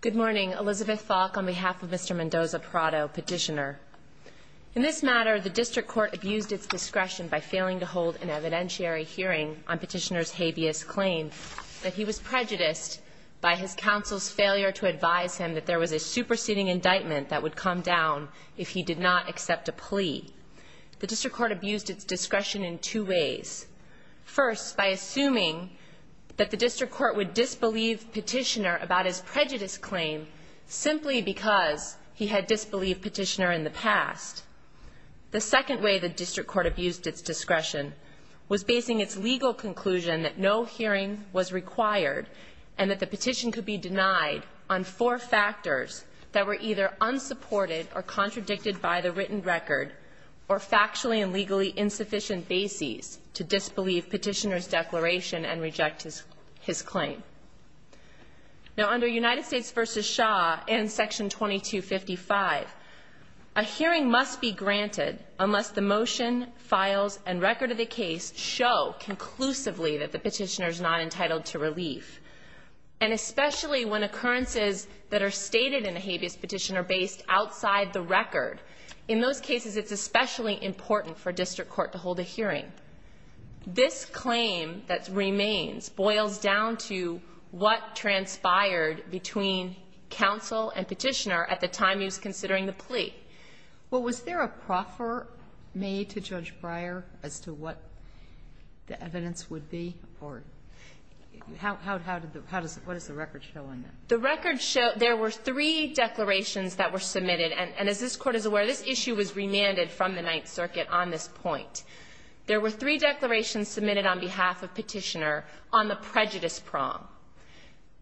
Good morning. Elizabeth Falk on behalf of Mr. Mendoza-Prado, Petitioner. In this matter, the District Court abused its discretion by failing to hold an evidentiary hearing on Petitioner's habeas claim that he was prejudiced by his counsel's failure to advise him that there was a superseding indictment that would come down if he did not accept a plea. The District Court abused its discretion in two ways. First, by assuming that the District Court would disbelieve Petitioner about his prejudice claim simply because he had disbelieved Petitioner in the past. The second way the District Court abused its discretion was basing its legal conclusion that no hearing was required and that the petition could be denied on four factors that were either unsupported or contradicted by the written record or factually and legally insufficient bases to disbelieve Petitioner's declaration and reject his claim. Now, under United States v. Shaw and Section 2255, a hearing must be granted unless the motion, files, and record of the case show conclusively that the petitioner is not entitled to relief, and especially when occurrences that are stated in a habeas petition are based outside the record. In those cases, it's especially important for a District Court to hold a hearing. This claim that remains boils down to what transpired between counsel and Petitioner at the time he was considering the plea. Well, was there a proffer made to Judge Breyer as to what the evidence would be, or how did the – what does the record show on that? The record showed there were three declarations that were submitted, and as this Court is aware, this issue was remanded from the Ninth Circuit on this point. There were three declarations submitted on behalf of Petitioner on the prejudice prong.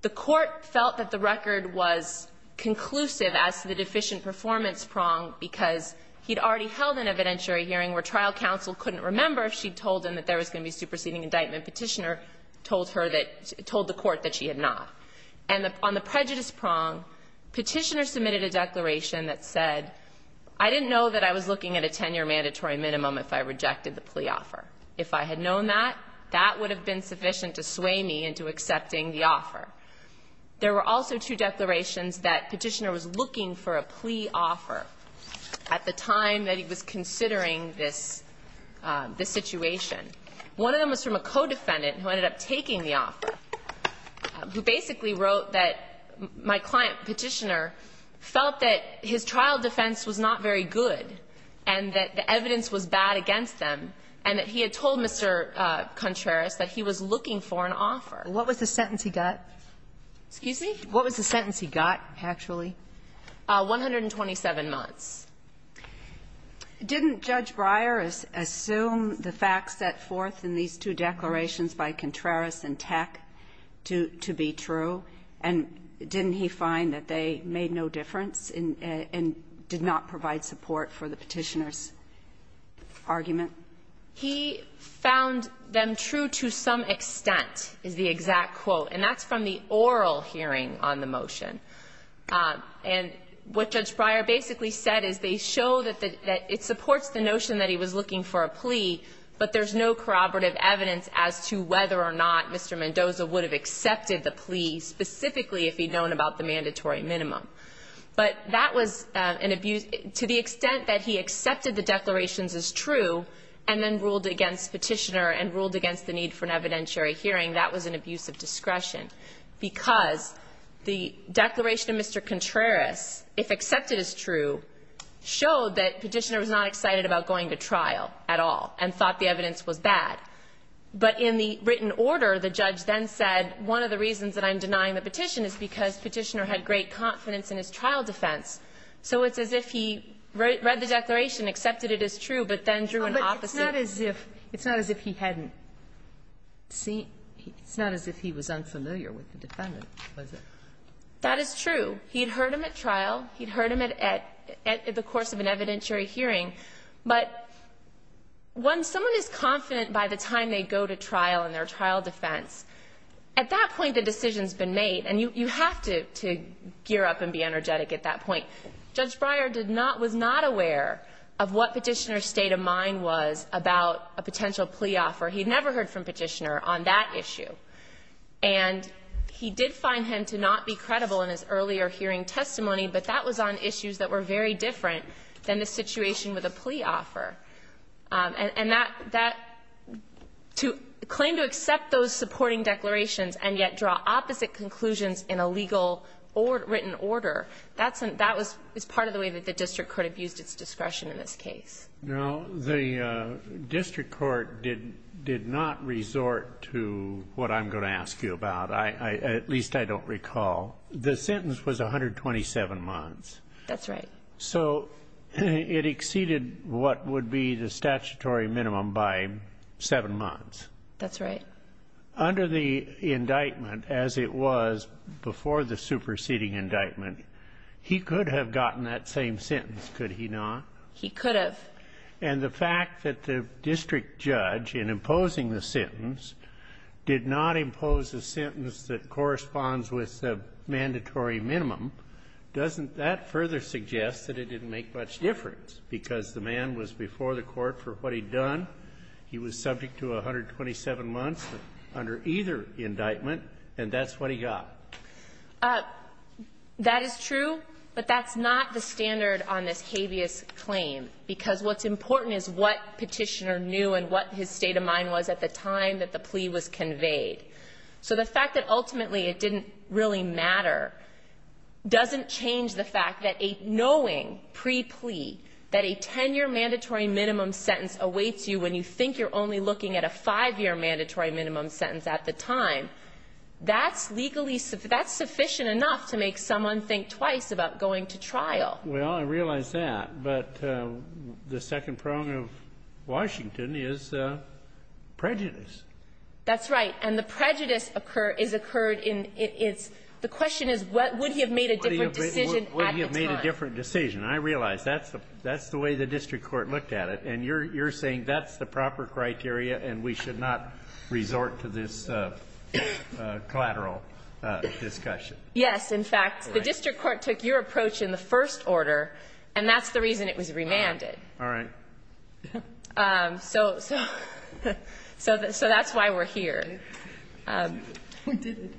The Court felt that the record was conclusive as to the deficient performance prong because he'd already held an evidentiary hearing where trial counsel couldn't remember if she'd told him that there was going to be a superseding indictment. Petitioner told her that – told the Court that she had not. And on the prejudice prong, Petitioner submitted a declaration that said, I didn't know that I was looking at a 10-year mandatory minimum if I rejected the plea offer. If I had known that, that would have been sufficient to sway me into accepting the offer. There were also two declarations that Petitioner was looking for a plea offer at the time that he was considering this – this situation. One of them was from a co-defendant who ended up taking the offer, who basically wrote that my client, Petitioner, felt that his trial defense was not very good and that the evidence was bad against them, and that he had told Mr. Contreras that he was looking for an offer. What was the sentence he got? Excuse me? What was the sentence he got, actually? 127 months. Didn't Judge Breyer assume the facts set forth in these two declarations by Contreras and Teck to be true? And didn't he find that they made no difference and did not provide support for the Petitioner's argument? He found them true to some extent, is the exact quote. And that's from the oral hearing on the motion. And what Judge Breyer basically said is they show that it supports the notion that he was looking for a plea, but there's no corroborative evidence as to whether or not Mr. Mendoza would have accepted the plea, specifically if he'd known about the mandatory minimum. But that was an abuse. To the extent that he accepted the declarations as true and then ruled against Petitioner and ruled against the need for an evidentiary hearing, that was an abuse of discretion. Because the declaration of Mr. Contreras, if accepted as true, showed that Petitioner was not excited about going to trial at all and thought the evidence was bad. But in the written order, the judge then said, one of the reasons that I'm denying the petition is because Petitioner had great confidence in his trial defense. So it's as if he read the declaration, accepted it as true, but then drew an opposite It's not as if he hadn't seen. It's not as if he was unfamiliar with the defendant, was it? That is true. He had heard him at trial. He had heard him at the course of an evidentiary hearing. But when someone is confident by the time they go to trial in their trial defense, at that point the decision has been made, and you have to gear up and be energetic at that point. Judge Breyer did not, was not aware of what Petitioner's state of mind was about a potential plea offer. He had never heard from Petitioner on that issue. And he did find him to not be credible in his earlier hearing testimony, but that was on issues that were very different than the situation with a plea offer. And that, to claim to accept those supporting declarations and yet draw opposite conclusions in a legal or written order, that was part of the way that the district court abused its discretion in this case. Now, the district court did not resort to what I'm going to ask you about, at least I don't recall. The sentence was 127 months. That's right. So it exceeded what would be the statutory minimum by seven months. That's right. Under the indictment, as it was before the superseding indictment, he could have gotten that same sentence, could he not? He could have. And the fact that the district judge, in imposing the sentence, did not impose a sentence that corresponds with the mandatory minimum, doesn't that further suggest that it didn't make much difference? Because the man was before the Court for what he'd done. He was subject to 127 months under either indictment, and that's what he got. That is true, but that's not the standard on this habeas claim, because what's important is what Petitioner knew and what his state of mind was at the time that the plea was conveyed. So the fact that ultimately it didn't really matter doesn't change the fact that knowing pre-plea that a 10-year mandatory minimum sentence awaits you when you think you're only looking at a 5-year mandatory minimum sentence at the time, that's sufficiently enough to make someone think twice about going to trial. Well, I realize that, but the second prong of Washington is prejudice. That's right. And the prejudice is occurred in its the question is would he have made a different decision? I realize that's the way the district court looked at it, and you're saying that's the proper criteria and we should not resort to this collateral discussion. Yes. In fact, the district court took your approach in the first order, and that's the reason it was remanded. All right. So that's why we're here. We did it.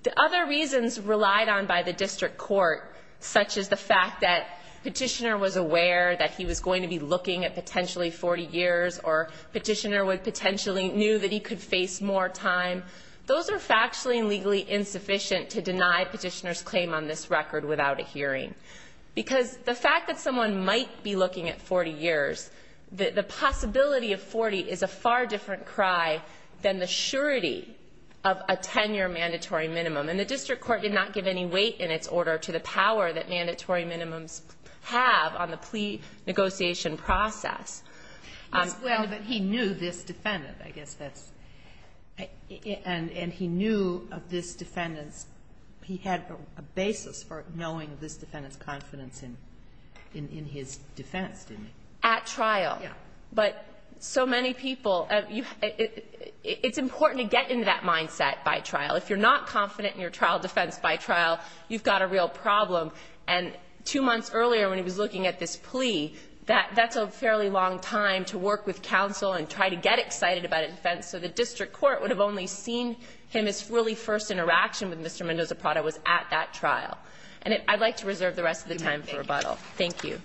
The other reasons relied on by the district court, such as the fact that petitioner was aware that he was going to be looking at potentially 40 years or petitioner would potentially knew that he could face more time, those are factually and legally insufficient to deny petitioner's claim on this record without a hearing. Because the fact that someone might be looking at 40 years, the possibility of 40 is a far different cry than the surety of a 10-year mandatory minimum. And the district court did not give any weight in its order to the power that mandatory minimums have on the plea negotiation process. Well, but he knew this defendant, I guess that's, and he knew of this defendant's, he had a basis for knowing this defendant's confidence in his defense, didn't he? At trial. Yeah. But so many people, it's important to get into that mindset by trial. If you're not confident in your trial defense by trial, you've got a real problem. And two months earlier when he was looking at this plea, that's a fairly long time to work with counsel and try to get excited about a defense. So the district court would have only seen him as really first interaction with Mr. Mendoza-Prada was at that trial. And I'd like to reserve the rest of the time for rebuttal. Thank you.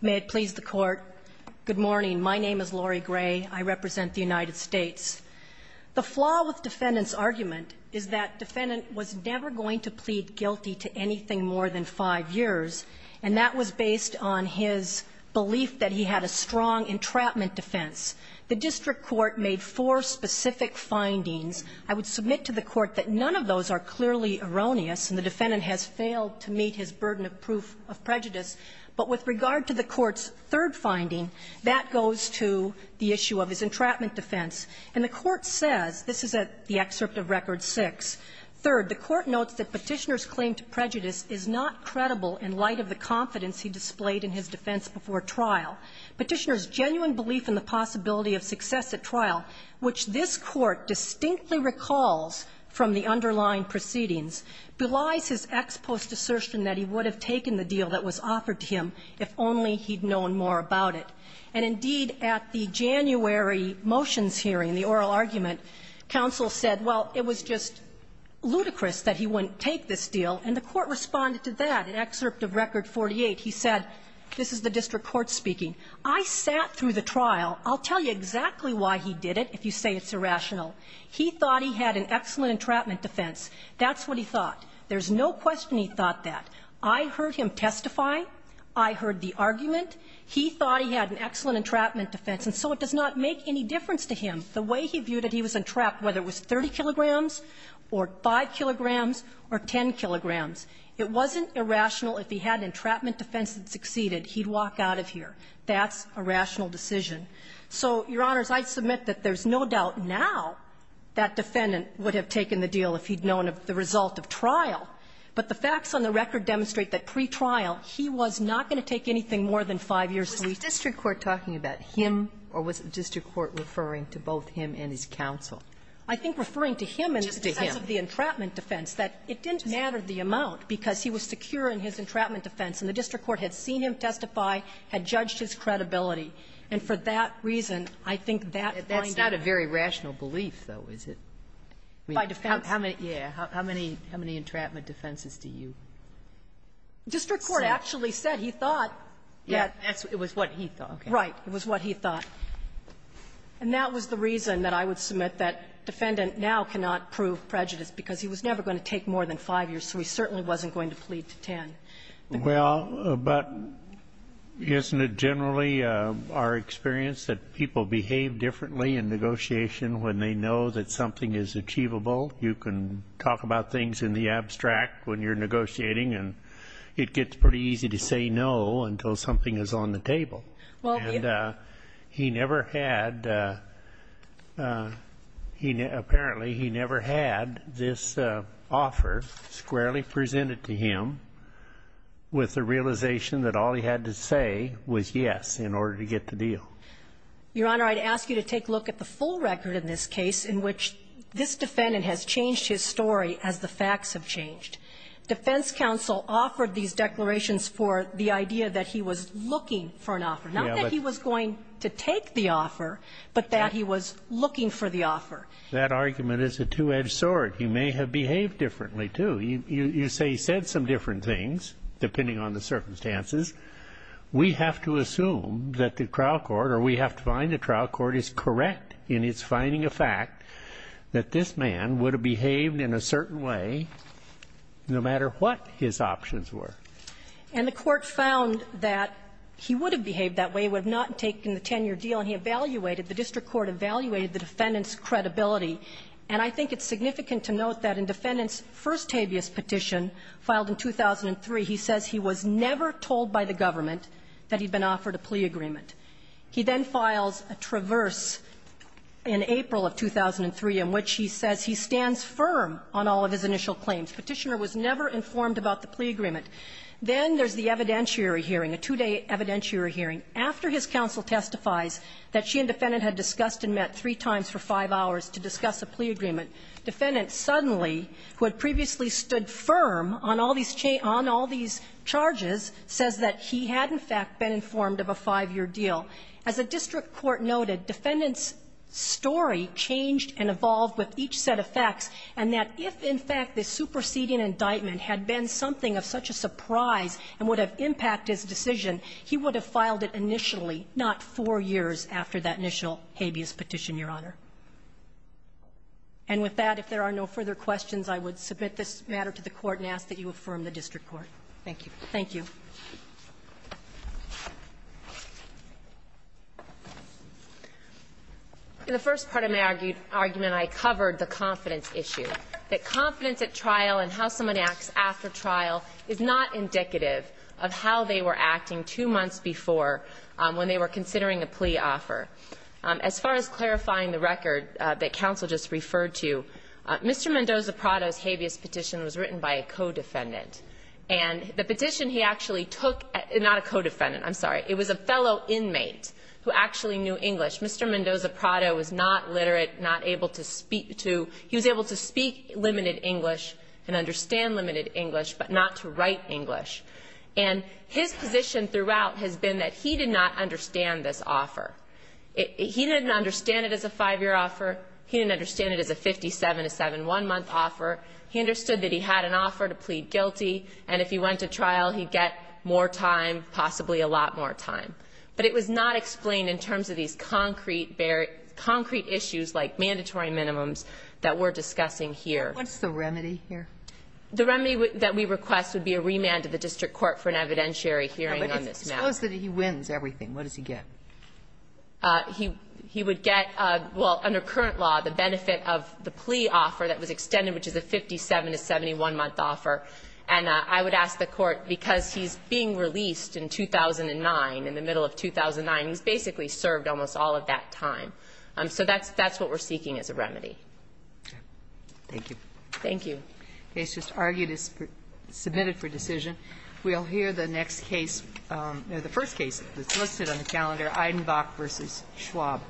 May it please the Court. Good morning. My name is Lori Gray. I represent the United States. The flaw with defendant's argument is that defendant was never going to plead guilty to anything more than five years, and that was based on his belief that he had a strong entrapment defense. The district court made four specific findings. I would submit to the Court that none of those are clearly erroneous, and the defendant has failed to meet his burden of proof of prejudice. But with regard to the Court's third finding, that goes to the issue of his entrapment defense. And the Court says, this is at the excerpt of Record 6, third, the Court notes that Petitioner's claim to prejudice is not credible in light of the confidence he displayed in his defense before trial. Petitioner's genuine belief in the possibility of success at trial, which this Court distinctly recalls from the underlying proceedings, belies his ex post assertion that he would have taken the deal that was offered to him if only he had known more about it. And, indeed, at the January motions hearing, the oral argument, counsel said, well, it was just ludicrous that he wouldn't take this deal, and the Court responded to that in excerpt of Record 48. He said, this is the district court speaking, I sat through the trial. I'll tell you exactly why he did it if you say it's irrational. He thought he had an excellent entrapment defense. That's what he thought. There's no question he thought that. I heard him testify. I heard the argument. He thought he had an excellent entrapment defense. And so it does not make any difference to him the way he viewed it. He was entrapped, whether it was 30 kilograms or 5 kilograms or 10 kilograms. It wasn't irrational. If he had an entrapment defense that succeeded, he'd walk out of here. That's a rational decision. So, Your Honors, I submit that there's no doubt now that defendant would have taken the deal if he'd known of the result of trial. But the facts on the record demonstrate that pre-trial, he was not going to take anything more than 5 years' leave. Kagan. Was the district court talking about him, or was the district court referring to both him and his counsel? I think referring to him in the sense of the entrapment defense, that it didn't matter the amount, because he was secure in his entrapment defense. And the district court had seen him testify, had judged his credibility. And for that reason, I think that finding that he was secure in his entrapment Sotomayor, that's not a very rational belief, though, is it? By defense. How many, yeah, how many entrapment defenses do you say? The district court actually said he thought that. It was what he thought. Right. It was what he thought. And that was the reason that I would submit that defendant now cannot prove prejudice, because he was never going to take more than 5 years, so he certainly wasn't going to plead to 10. Well, but isn't it generally our experience that people behave differently in negotiation when they know that something is achievable? You can talk about things in the abstract when you're negotiating, and it gets pretty easy to say no until something is on the table. Well, the And he never had, apparently, he never had this offer squarely presented to him. With the realization that all he had to say was yes in order to get the deal. Your Honor, I'd ask you to take a look at the full record in this case in which this defendant has changed his story as the facts have changed. Defense counsel offered these declarations for the idea that he was looking for an offer, not that he was going to take the offer, but that he was looking for the offer. That argument is a two-edged sword. He may have behaved differently, too. You say he said some different things, depending on the circumstances. We have to assume that the trial court, or we have to find the trial court is correct in its finding a fact that this man would have behaved in a certain way no matter what his options were. And the court found that he would have behaved that way, would have not taken the 10-year deal, and he evaluated, the district court evaluated the defendant's credibility. And I think it's significant to note that in defendant's first habeas petition filed in 2003, he says he was never told by the government that he'd been offered a plea agreement. He then files a traverse in April of 2003 in which he says he stands firm on all of his initial claims. Petitioner was never informed about the plea agreement. Then there's the evidentiary hearing, a two-day evidentiary hearing, after his counsel testifies that she and defendant had discussed and met three times for five hours to discuss a plea agreement. Defendant suddenly, who had previously stood firm on all these charges, says that he had, in fact, been informed of a five-year deal. As the district court noted, defendant's story changed and evolved with each set of facts, and that if, in fact, the superseding indictment had been something of such a surprise and would have impacted his decision, he would have filed it initially, not four years after that initial habeas petition, Your Honor. And with that, if there are no further questions, I would submit this matter to the Court and ask that you affirm the district court. Thank you. Thank you. In the first part of my argument, I covered the confidence issue, that confidence at trial and how someone acts after trial is not indicative of how they were acting two months before when they were considering a plea offer. As far as clarifying the record that counsel just referred to, Mr. Mendoza-Prado's habeas petition was written by a co-defendant. And the petition he actually took — not a co-defendant, I'm sorry. It was a fellow inmate who actually knew English. Mr. Mendoza-Prado was not literate, not able to speak to — he was able to speak limited English and understand limited English, but not to write English. And his position throughout has been that he did not understand this offer. He didn't understand it as a five-year offer. He didn't understand it as a 57-to-7, one-month offer. He understood that he had an offer to plead guilty, and if he went to trial, he'd get more time, possibly a lot more time. But it was not explained in terms of these concrete issues like mandatory minimums that we're discussing here. What's the remedy here? The remedy that we request would be a remand to the district court for an evidentiary hearing on this matter. But suppose that he wins everything. What does he get? He would get, well, under current law, the benefit of the plea offer that was extended, which is a 57-to-71-month offer. And I would ask the Court, because he's being released in 2009, in the middle of 2009, he's basically served almost all of that time. So that's what we're seeking as a remedy. Thank you. Thank you. The case just argued is submitted for decision. We'll hear the next case, the first case that's listed on the calendar, Eidenbach v. Schwab.